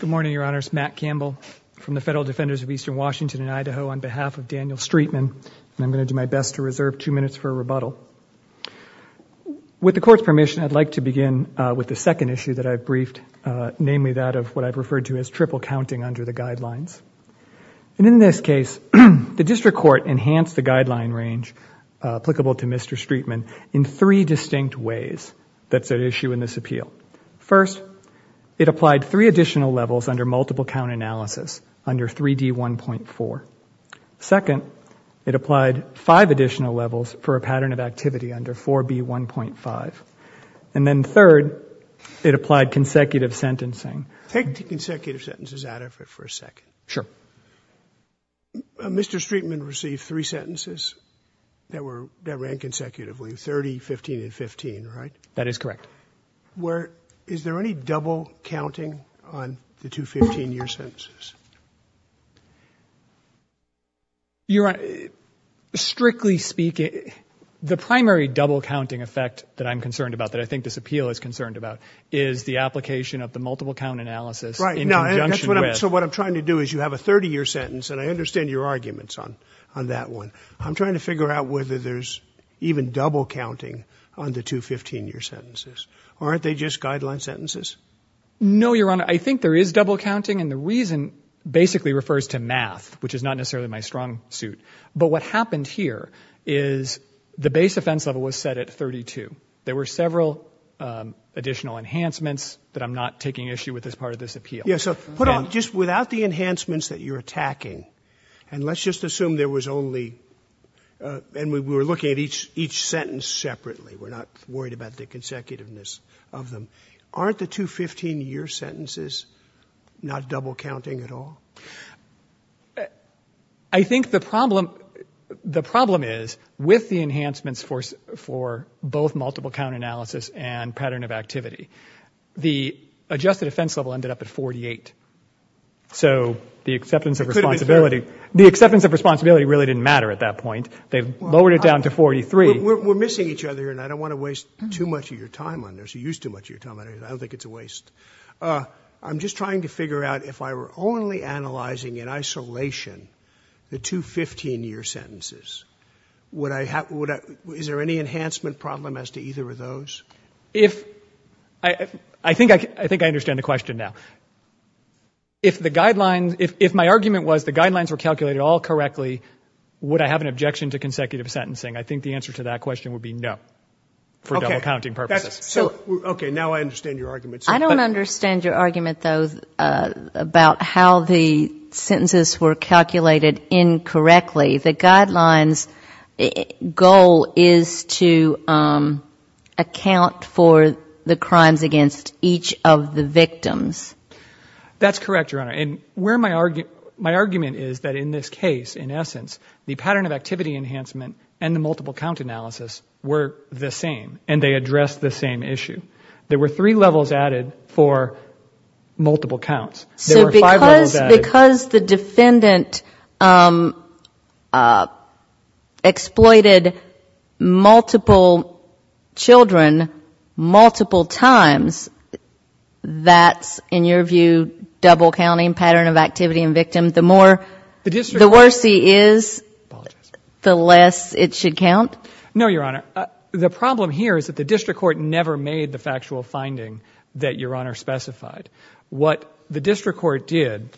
Good morning, Your Honors. Matt Campbell from the Federal Defenders of Eastern Washington and Idaho on behalf of Daniel Streetman, and I'm going to do my best to reserve two minutes for a rebuttal. With the Court's permission, I'd like to begin with the second issue that I've briefed, namely that of what I've referred to as triple counting under the Guidelines. And in this case, the District Court enhanced the Guideline range applicable to Mr. Streetman in three distinct ways that's at issue in this appeal. First, it applied three additional levels under multiple count analysis under 3D1.4. Second, it applied five additional levels for a pattern of activity under 4B1.5. And then third, it applied consecutive sentencing. Take the consecutive sentences out of it for a second. Sure. Mr. Streetman received three sentences that ran consecutively, 30, 15, and 15, right? That is correct. Is there any double counting on the two 15-year sentences? Strictly speaking, the primary double counting effect that I'm concerned about, that I think this appeal is concerned about, is the application of the multiple count analysis in conjunction with... So what I'm trying to do is you have a 30-year sentence, and I understand your arguments on that one. I'm trying to figure out whether there's even double counting on the two 15-year sentences. Aren't they just Guideline sentences? No, Your Honor. I think there is double counting, and the reason basically refers to math, which is not necessarily my strong suit. But what happened here is the base offense level was set at 32. There were several additional enhancements that I'm not taking issue with as part of this appeal. Yeah. So put on, just without the enhancements that you're attacking, and let's just assume there was only, and we were looking at each sentence separately. We're not worried about the consecutiveness of them. Aren't the two 15-year sentences not double counting at all? I think the problem is, with the enhancements for both multiple count analysis and pattern of activity, the adjusted offense level ended up at 48. So the acceptance of responsibility really didn't matter at that point. They've lowered it down to 43. We're missing each other, and I don't want to waste too much of your time on this. You used too much of your time on this. I don't think it's a waste. I'm just trying to figure out if I were only analyzing in isolation the two 15-year sentences, is there any enhancement problem as to either of those? I think I understand the question now. If my argument was the guidelines were calculated all correctly, would I have an objection to consecutive sentencing? I think the answer to that question would be no, for double counting purposes. Okay. Now I understand your argument. I don't understand your argument, though, about how the sentences were calculated incorrectly. The guidelines' goal is to account for the crimes against each of the victims. That's correct, Your Honor. My argument is that in this case, in essence, the pattern of activity enhancement and the multiple count analysis were the same, and they addressed the same issue. There were three levels added for multiple counts. So because the defendant exploited multiple children multiple times, that's, in your view, double counting pattern of activity in victims. The more, the worse he is, the less it should count? No, Your Honor. The problem here is that the district court did.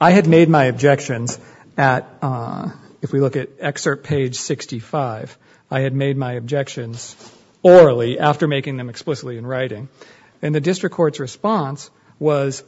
I had made my objections at, if we look at excerpt page 65, I had made my objections orally after making them explicitly in writing. The district court's response was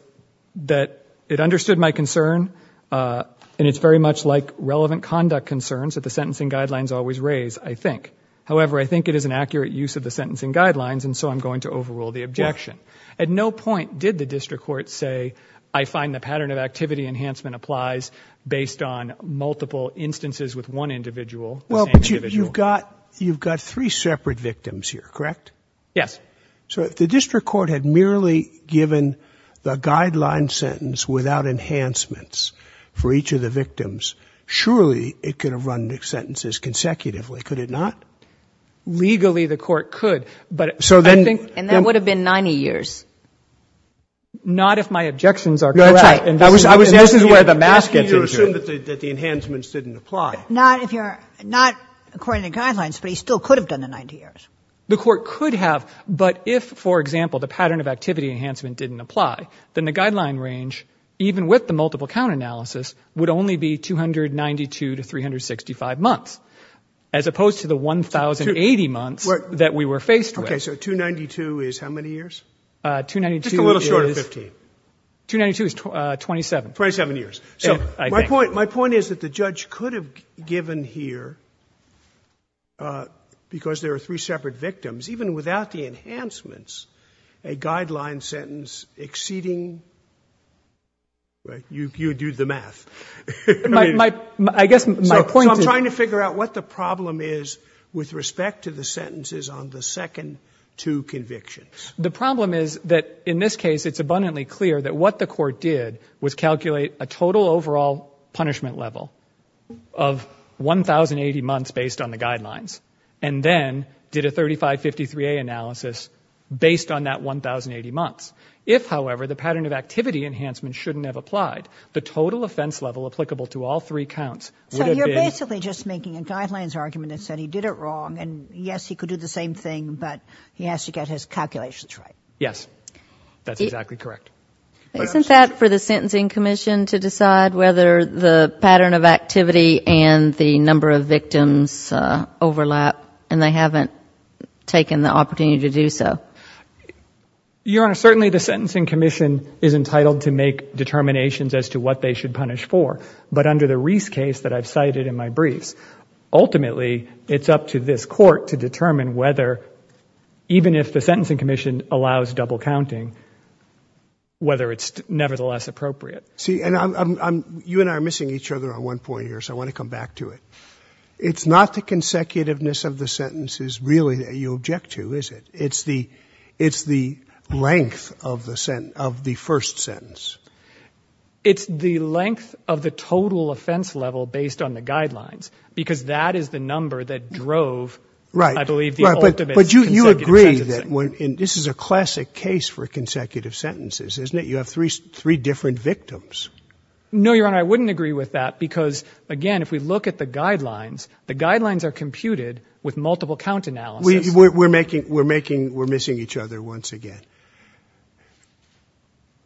that it understood my concern, and it's very much like relevant conduct concerns that the sentencing guidelines always raise, I think. However, I think it is an accurate use of the sentencing guidelines, and so I'm going to overrule the objection. At no point did the district court say, I find the pattern of activity enhancement applies based on multiple instances with one individual, the same individual. Well, but you've got three separate victims here, correct? Yes. So if the district court had merely given the guideline sentence without enhancements for each of the victims, surely it could have run the sentences consecutively. Could it not? Legally, the court could, but I think. And that would have been 90 years. Not if my objections are correct. No, that's right. And this is where the mask gets into it. I was asking you to assume that the enhancements didn't apply. Not if you're, not according to guidelines, but he still could have done the 90 years. The court could have, but if, for example, the pattern of activity enhancement didn't apply, then the guideline range, even with the multiple count analysis, would only be 292 to 365 months, as opposed to the 1,080 months that we were faced with. Okay, so 292 is how many years? 292 is. Just a little short of 15. 292 is 27. 27 years. So my point, my point is that the judge could have given here, because there are three separate victims, even without the enhancements, a guideline sentence exceeding, right, you do the math. So I'm trying to figure out what the problem is with respect to the sentences on the second two convictions. The problem is that in this case, it's abundantly clear that what the court did was calculate a total overall punishment level of 1,080 months based on the guidelines, and then did a 3553A analysis based on that 1,080 months. If, however, the pattern of activity enhancement shouldn't have applied, the total offense level applicable to all three counts would have been. So you're basically just making a guidelines argument that said he did it wrong, and yes, he could do the same thing, but he has to get his calculations right. Yes. That's exactly correct. Isn't that for the Sentencing Commission to decide whether the pattern of activity and the number of victims overlap, and they haven't taken the opportunity to do so? Your Honor, certainly the Sentencing Commission is entitled to make determinations as to what they should punish for. But under the Reese case that I've cited in my briefs, ultimately, it's up to this court to determine whether, even if the Sentencing Commission allows double counting, whether it's nevertheless appropriate. See, and you and I are missing each other on one point here, so I want to come back to it. It's not the consecutiveness of the sentences really that you object to, is it? It's the length of the first sentence. It's the length of the total offense level based on the guidelines, because that is the number that drove, I believe, the ultimate consecutive sentences. Right. But you agree that this is a classic case for consecutive sentences, isn't it? You have three different victims. No, Your Honor, I wouldn't agree with that because, again, if we look at the guidelines, the guidelines are computed with multiple count analysis. We're missing each other once again.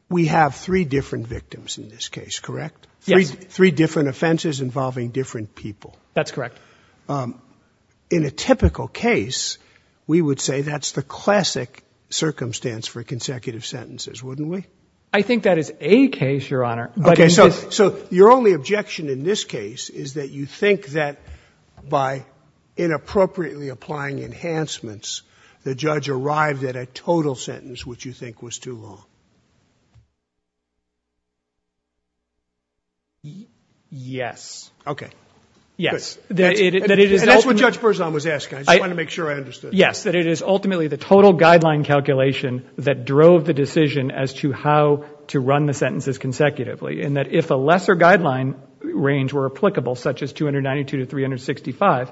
We have three different victims in this case, correct? Yes. Three different offenses involving different people. That's correct. In a typical case, we would say that's the classic circumstance for consecutive sentences, wouldn't we? I think that is a case, Your Honor. Okay, so your only objection in this case is that you think that by inappropriately applying enhancements, the judge arrived at a total sentence, which you think was too long. Yes. Okay. Yes. That's what Judge Berzon was asking. I just wanted to make sure I understood. Yes, that it is ultimately the total guideline calculation that drove the decision as to how to run the sentences consecutively, and that if a lesser guideline range were applicable, such as 292 to 365,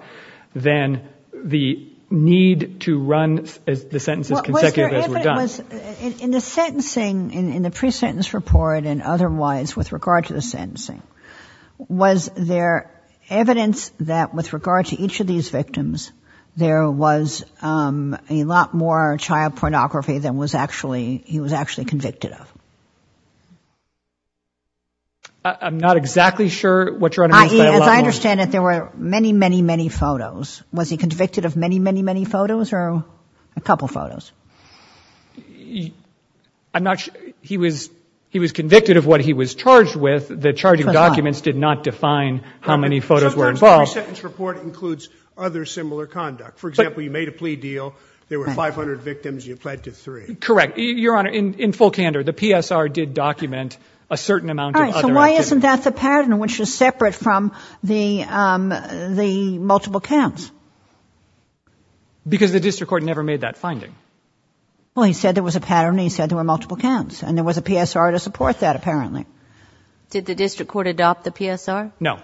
then the need to run the sentences consecutively as we're done. Was there evidence in the sentencing, in the pre-sentence report and otherwise with regard to the sentencing, was there evidence that with regard to each of these victims, there was a lot more child pornography than he was actually convicted of? I'm not exactly sure what you're understanding. As I understand it, there were many, many, many photos. Was he convicted of many, many, many photos or a couple of photos? I'm not sure. He was convicted of what he was charged with. The charging documents did not define how many photos were involved. Sometimes pre-sentence report includes other similar conduct. For example, you made a plea deal. There were 500 victims. You pled to three. Correct. Your Honor, in full candor, the PSR did document a certain amount of other activities. Isn't that the pattern, which is separate from the multiple counts? Because the district court never made that finding. Well, he said there was a pattern. He said there were multiple counts and there was a PSR to support that, apparently. Did the district court adopt the PSR? No.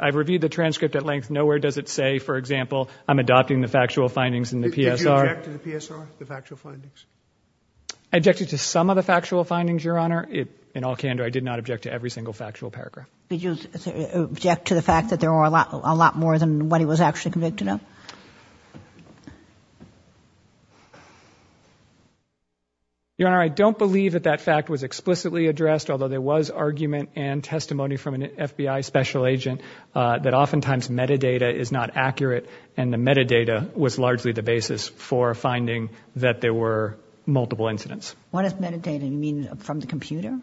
I've reviewed the transcript at length. Nowhere does it say, for example, I'm adopting the factual findings in the PSR. Did you object to the PSR, the factual findings? I objected to some of the factual findings, Your Honor. In all candor, I did not object to every single factual paragraph. Did you object to the fact that there are a lot more than what he was actually convicted of? Your Honor, I don't believe that that fact was explicitly addressed, although there was argument and testimony from an FBI special agent that oftentimes metadata is not accurate, and the metadata was largely the basis for finding that there were multiple incidents. What is metadata? You mean from the computer?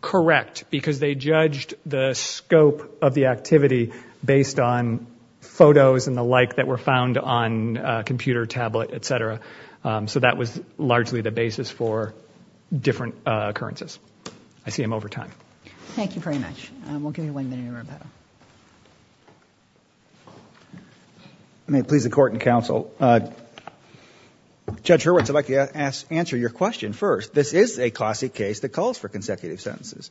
Correct. Because they judged the scope of the activity based on photos and the like that were found on a computer, tablet, et cetera. So that was largely the basis for different occurrences. I see him over time. Thank you very much. We'll give you one minute, Roberto. I may please the court and counsel. Judge Hurwitz, I'd like to answer your question first. This is a classic case that calls for consecutive sentences.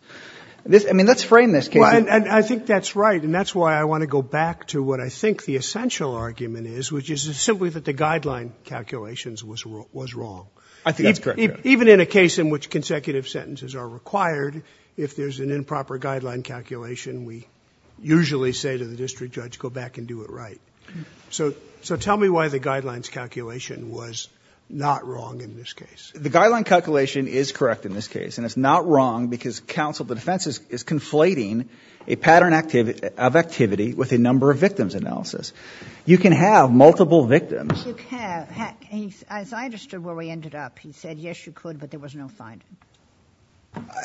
I mean, let's frame this case. And I think that's right. And that's why I want to go back to what I think the essential argument is, which is simply that the guideline calculations was wrong. I think that's correct, Your Honor. Even in a case in which consecutive sentences are required, if there's an improper guideline calculation, we usually say to the district judge, go back and do it right. So tell me why the guidelines calculation was not wrong in this case. The guideline calculation is correct in this case. And it's not wrong because counsel, the defense is conflating a pattern of activity with a number of victims analysis. You can have multiple victims. You can. As I understood where we ended up, he said, yes, you could, but there was no finding.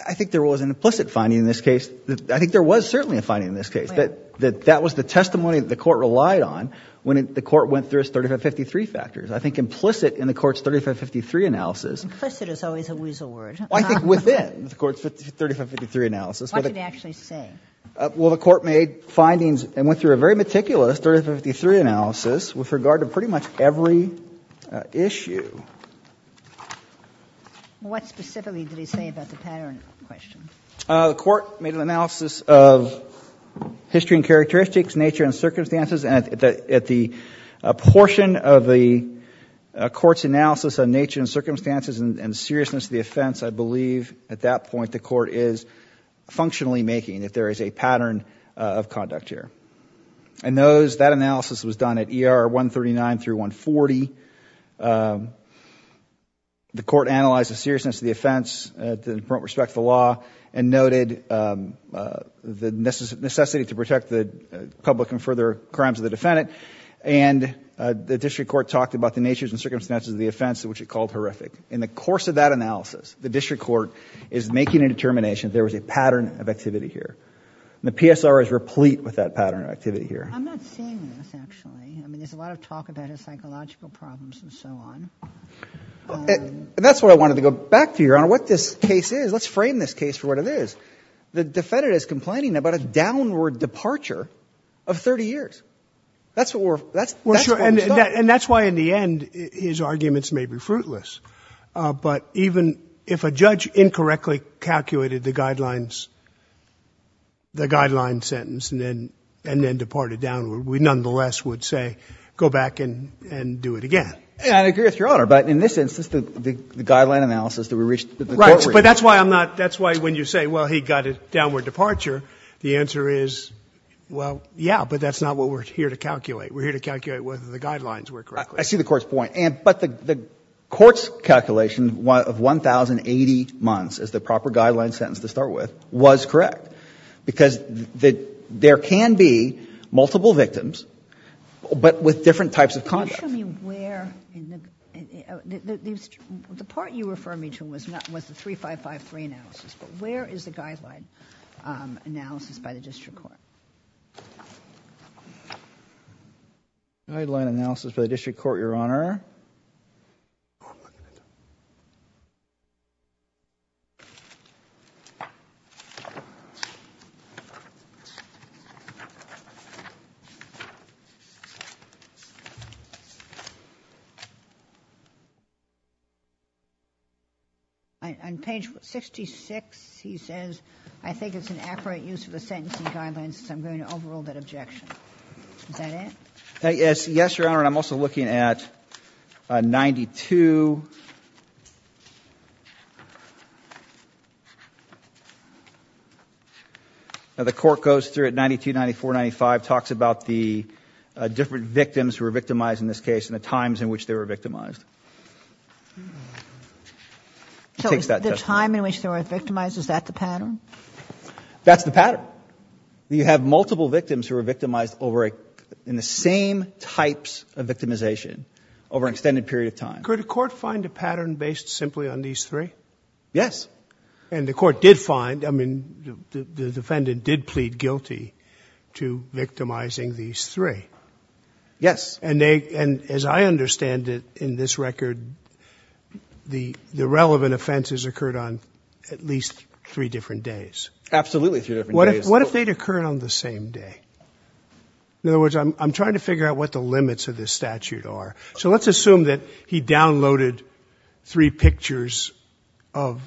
I think there was an implicit finding in this case. I think there was certainly a finding in this case. That was the testimony that the court relied on when the court went through its 3553 factors. I think implicit in the court's 3553 analysis. Implicit is always a weasel word. I think within the court's 3553 analysis. What did it actually say? Well, the court made findings and went through a very meticulous 3553 analysis with regard to pretty much every issue. What specifically did he say about the pattern question? The court made an analysis of history and characteristics, nature and circumstances. And at the portion of the court's analysis of nature and circumstances and seriousness of the offense, I believe at that point, the court is functionally making that there is a pattern of conduct here. And that analysis was done at ER 139 through 140. The court analyzed the seriousness of the offense in respect to the law. Noted the necessity to protect the public and further crimes of the defendant. And the district court talked about the natures and circumstances of the offense, which it called horrific. In the course of that analysis, the district court is making a determination there was a pattern of activity here. The PSR is replete with that pattern of activity here. I'm not seeing this, actually. I mean, there's a lot of talk about his psychological problems and so on. That's why I wanted to go back to you, Your Honor. What this case is. Let's frame this case for what it is. The defendant is complaining about a downward departure of 30 years. That's what we're, that's, that's what we're talking about. And that's why in the end, his arguments may be fruitless. But even if a judge incorrectly calculated the guidelines, the guideline sentence and then, and then departed downward, we nonetheless would say, go back and do it again. I agree with Your Honor. But that's why I'm not, that's why when you say, well, he got a downward departure, the answer is, well, yeah. But that's not what we're here to calculate. We're here to calculate whether the guidelines were correct. I see the Court's point. But the Court's calculation of 1,080 months as the proper guideline sentence to start with was correct. Because there can be multiple victims, but with different types of conduct. Show me where in the, the part you refer me to was not, was the 3553 analysis. But where is the guideline analysis by the District Court? Guideline analysis by the District Court, Your Honor. On page 66, he says, I think it's an accurate use of the sentencing guidelines, so I'm going to overrule that objection. Is that it? Yes. Yes, Your Honor. And I'm also looking at 92. Now, the Court goes through at 92, 94, 95, talks about the different victims who were victimized in this case and the times in which they were victimized. So, the time in which they were victimized, is that the pattern? That's the pattern. You have multiple victims who were victimized over a, in the same types of victimization over an extended period of time. Could a court find a pattern based simply on these three? Yes. And the court did find, I mean, the defendant did plead guilty to victimizing these three. Yes. And as I understand it, in this record, the relevant offenses occurred on at least three different days. Absolutely three different days. What if they'd occurred on the same day? In other words, I'm trying to figure out what the limits of this statute are. So, let's assume that he downloaded three pictures of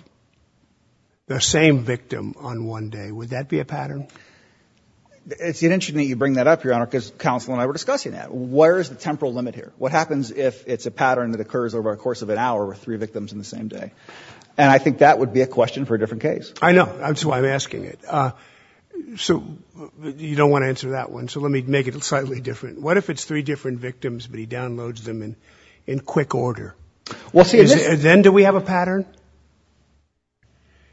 the same victim on one day. Would that be a pattern? It's interesting that you bring that up, Your Honor, because counsel and I were discussing that. Where's the temporal limit here? What happens if it's a pattern that occurs over the course of an hour with three victims on the same day? And I think that would be a question for a different case. I know. That's why I'm asking it. So, you don't want to answer that one, so let me make it slightly different. What if it's three different victims, but he downloads them in quick order? Then do we have a pattern?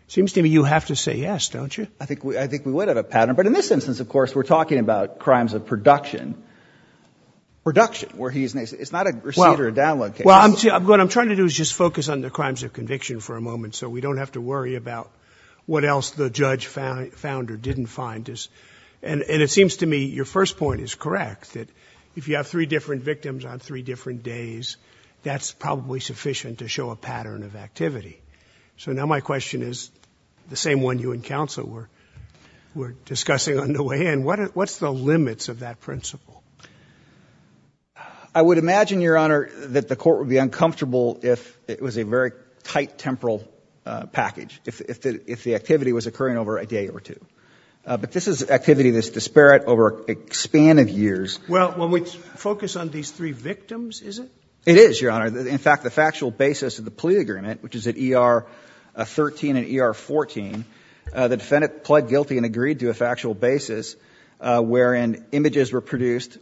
It seems to me you have to say yes, don't you? I think we would have a pattern, but in this instance, of course, we're talking about production where he's naked. It's not a receipt or a download case. Well, what I'm trying to do is just focus on the crimes of conviction for a moment, so we don't have to worry about what else the judge found or didn't find. And it seems to me your first point is correct, that if you have three different victims on three different days, that's probably sufficient to show a pattern of activity. So, now my question is the same one you and counsel were discussing on the way in. What's the limits of that principle? I would imagine, Your Honor, that the court would be uncomfortable if it was a very tight temporal package, if the activity was occurring over a day or two. But this is activity that's disparate over a span of years. Well, when we focus on these three victims, is it? It is, Your Honor. In fact, the factual basis of the plea agreement, which is at ER 13 and ER 14, the defendant pled guilty and agreed to a factual basis wherein images were produced,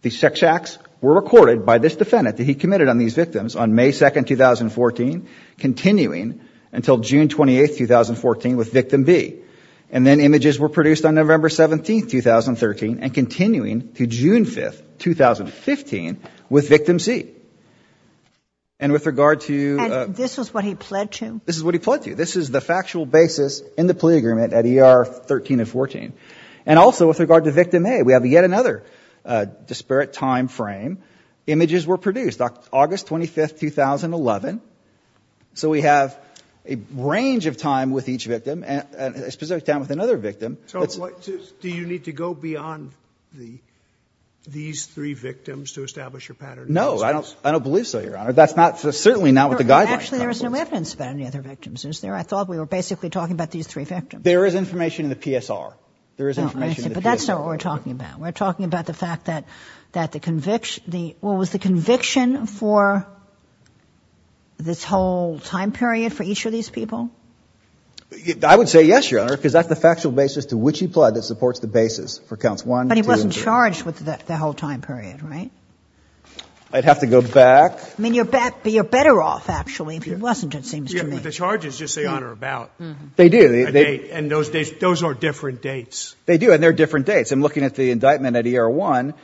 the sex acts were recorded by this defendant that he committed on these victims on May 2nd, 2014, continuing until June 28th, 2014, with victim B. And then images were produced on November 17th, 2013, and continuing to June 5th, 2015, with victim C. And with regard to... And this is what he pled to? This is what he pled to. This is the factual basis in the plea agreement at ER 13 and 14. And also, with regard to victim A, we have yet another disparate time frame. Images were produced on August 25th, 2011. So we have a range of time with each victim, and a specific time with another victim. So do you need to go beyond these three victims to establish your pattern? No. I don't believe so, Your Honor. That's certainly not what the guidelines cover. Actually, there is no evidence about any other victims, is there? I thought we were basically talking about these three victims. There is information in the PSR. But that's not what we're talking about. We're talking about the fact that the conviction, what was the conviction for this whole time period for each of these people? I would say yes, Your Honor, because that's the factual basis to which he pled that supports the basis for counts 1, 2, and 3. But he wasn't charged with the whole time period, right? I'd have to go back. I mean, you're better off, actually, if he wasn't, it seems to me. The charges just say on or about. They do. And those days, those are different dates. They do. And they're different dates. I'm looking at the indictment at ERA 1.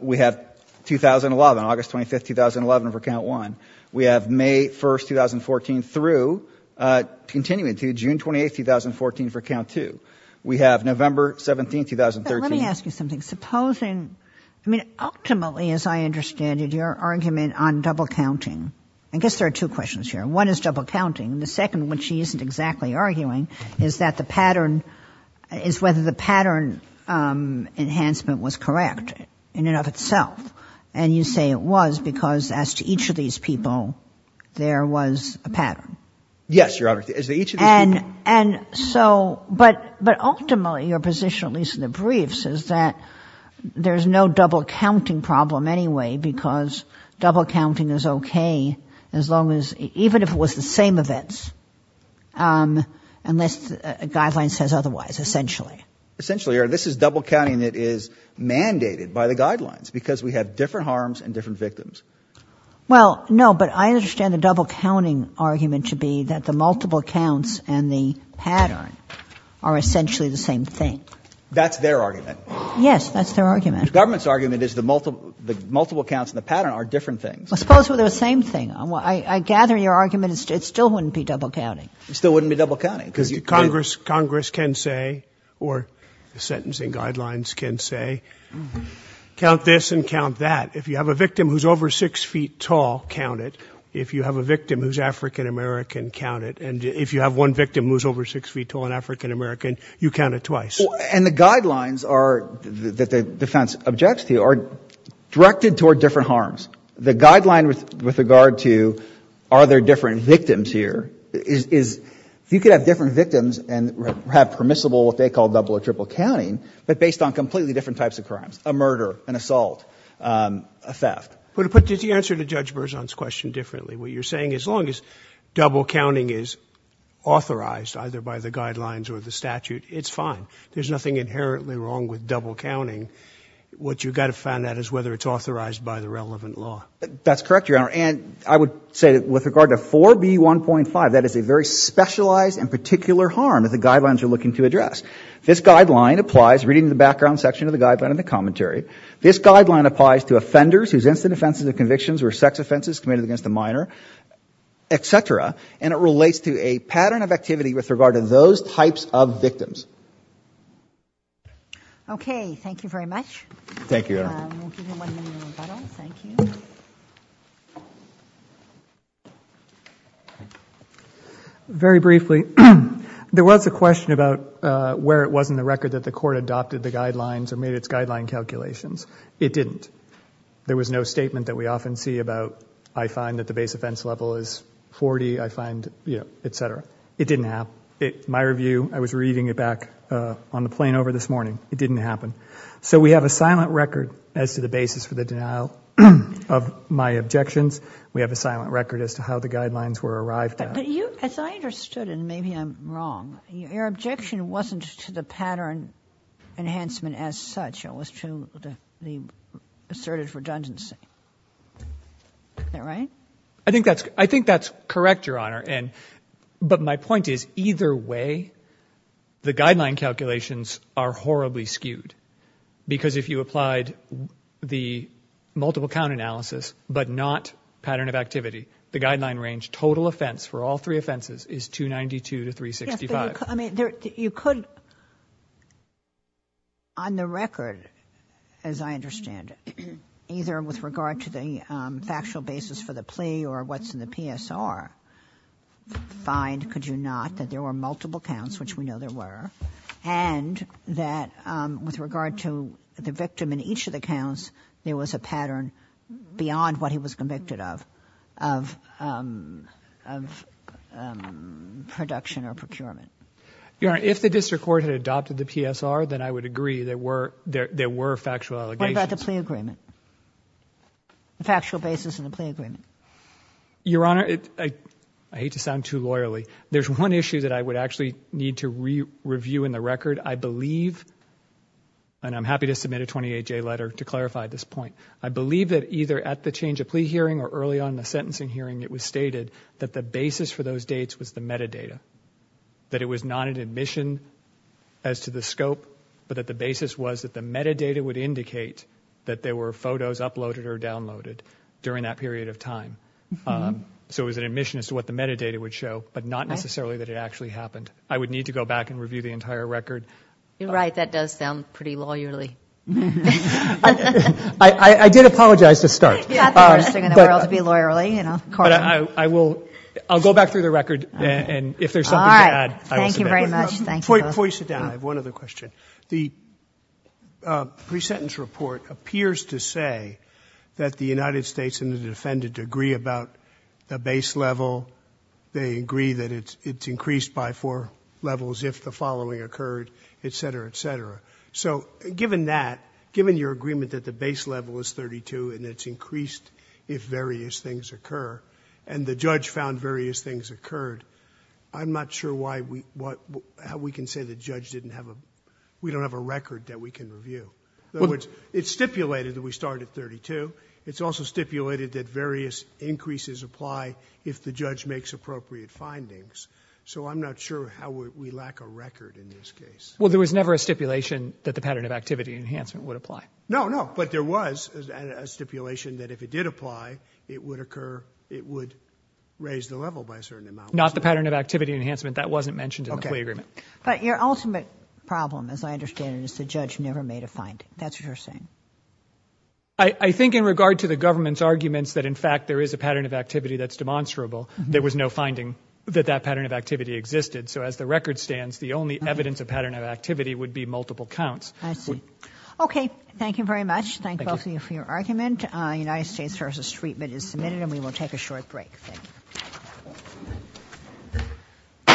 We have 2011, August 25, 2011 for count 1. We have May 1, 2014 through continuing to June 28, 2014 for count 2. We have November 17, 2013. Let me ask you something. Supposing, I mean, ultimately, as I understand it, your argument on double counting, I guess there are two questions here. One is double counting. The second, which she isn't exactly arguing, is that the pattern, is whether the pattern enhancement was correct in and of itself. And you say it was because as to each of these people, there was a pattern. Yes, Your Honor. As to each of these people. And so, but ultimately, your position, at least in the briefs, is that there's no double counting problem anyway because double counting is okay as long as, even if it was the same events, unless a guideline says otherwise, essentially. Essentially, Your Honor, this is double counting that is mandated by the guidelines because we have different harms and different victims. Well, no, but I understand the double counting argument to be that the multiple counts and the pattern are essentially the same thing. That's their argument. Yes, that's their argument. The government's argument is the multiple counts and the pattern are different things. Well, suppose they're the same thing. I gather your argument is it still wouldn't be double counting. It still wouldn't be double counting. Because Congress can say, or the sentencing guidelines can say, count this and count that. If you have a victim who's over 6 feet tall, count it. If you have a victim who's African-American, count it. And if you have one victim who's over 6 feet tall and African-American, you count it twice. And the guidelines are, that the defense objects to, are directed toward different harms. The guideline with regard to, are there different victims here, is you could have different victims and have permissible, what they call double or triple counting, but based on completely different types of crimes. A murder, an assault, a theft. But did you answer to Judge Berzon's question differently? What you're saying is, as long as double counting is authorized, either by the guidelines or the statute, it's fine. There's nothing inherently wrong with double counting. What you've got to find out is whether it's authorized by the relevant law. That's correct, Your Honor. And I would say that with regard to 4B1.5, that is a very specialized and particular harm that the guidelines are looking to address. This guideline applies, reading the background section of the guideline in the commentary. This guideline applies to offenders whose incident offenses or convictions were sex offenses committed against a minor, et cetera. And it relates to a pattern of activity with regard to those types of victims. Okay. Thank you very much. Thank you, Your Honor. We'll give you one minute to rebuttal. Thank you. Very briefly, there was a question about where it was in the record that the court adopted the guidelines or made its guideline calculations. It didn't. There was no statement that we often see about, I find that the base offense level is 40, I find, you know, et cetera. It didn't have. My review, I was reading it back on the plane over this morning. It didn't happen. So we have a silent record as to the basis for the denial of my objections. We have a silent record as to how the guidelines were arrived at. But you, as I understood, and maybe I'm wrong, your objection wasn't to the pattern enhancement as such. It was to the assertive redundancy. Is that right? I think that's correct, Your Honor. But my point is, either way, the guideline calculations are horribly skewed. Because if you applied the multiple count analysis, but not pattern of activity, the guideline range total offense for all three offenses is 292 to 365. I mean, you could, on the record, as I understand it, either with regard to the factual basis for the plea or what's in the PSR, find, could you not, that there were multiple counts, which we know there were. And that with regard to the victim in each of the counts, there was a pattern beyond what he was convicted of, of production or procurement. Your Honor, if the district court had adopted the PSR, then I would agree there were factual allegations. What about the plea agreement? The factual basis of the plea agreement. Your Honor, I hate to sound too loyally. There's one issue that I would actually need to review in the record. I believe, and I'm happy to submit a 28-J letter to clarify this point, I believe that either at the change of plea hearing or early on in the sentencing hearing, it was stated that the basis for those dates was the metadata. That it was not an admission as to the scope, but that the basis was that the metadata would indicate that there were photos uploaded or downloaded during that period of time. So it was an admission as to what the metadata would show, but not necessarily that it actually happened. I would need to go back and review the entire record. You're right. That does sound pretty loyally. I did apologize to start. You're not the first thing in the world to be loyally, you know. But I will, I'll go back through the record, and if there's something to add, I will submit. All right. Thank you very much. Thank you. Before you sit down, I have one other question. The pre-sentence report appears to say that the United States and the defendant agree about the base level. They agree that it's increased by four levels if the following occurred, et cetera, et cetera. So given that, given your agreement that the base level is 32 and it's increased if various things occur, and the judge found various things occurred, I'm not sure how we can say the judge didn't have a, we don't have a record that we can review. In other words, it's stipulated that we start at 32. It's also stipulated that various increases apply if the judge makes appropriate findings. So I'm not sure how we lack a record in this case. Well, there was never a stipulation that the pattern of activity enhancement would apply. No, no. But there was a stipulation that if it did apply, it would occur, it would raise the level by a certain amount. Not the pattern of activity enhancement. That wasn't mentioned in the plea agreement. But your ultimate problem, as I understand it, is the judge never made a finding. That's what you're saying. I think in regard to the government's arguments that, in fact, there is a pattern of activity that's demonstrable, there was no finding that that pattern of activity existed. So as the record stands, the only evidence of pattern of activity would be multiple counts. I see. Okay. Thank you very much. Thank both of you for your argument. United States v. Treatment is submitted and we will take a short break. Thank you.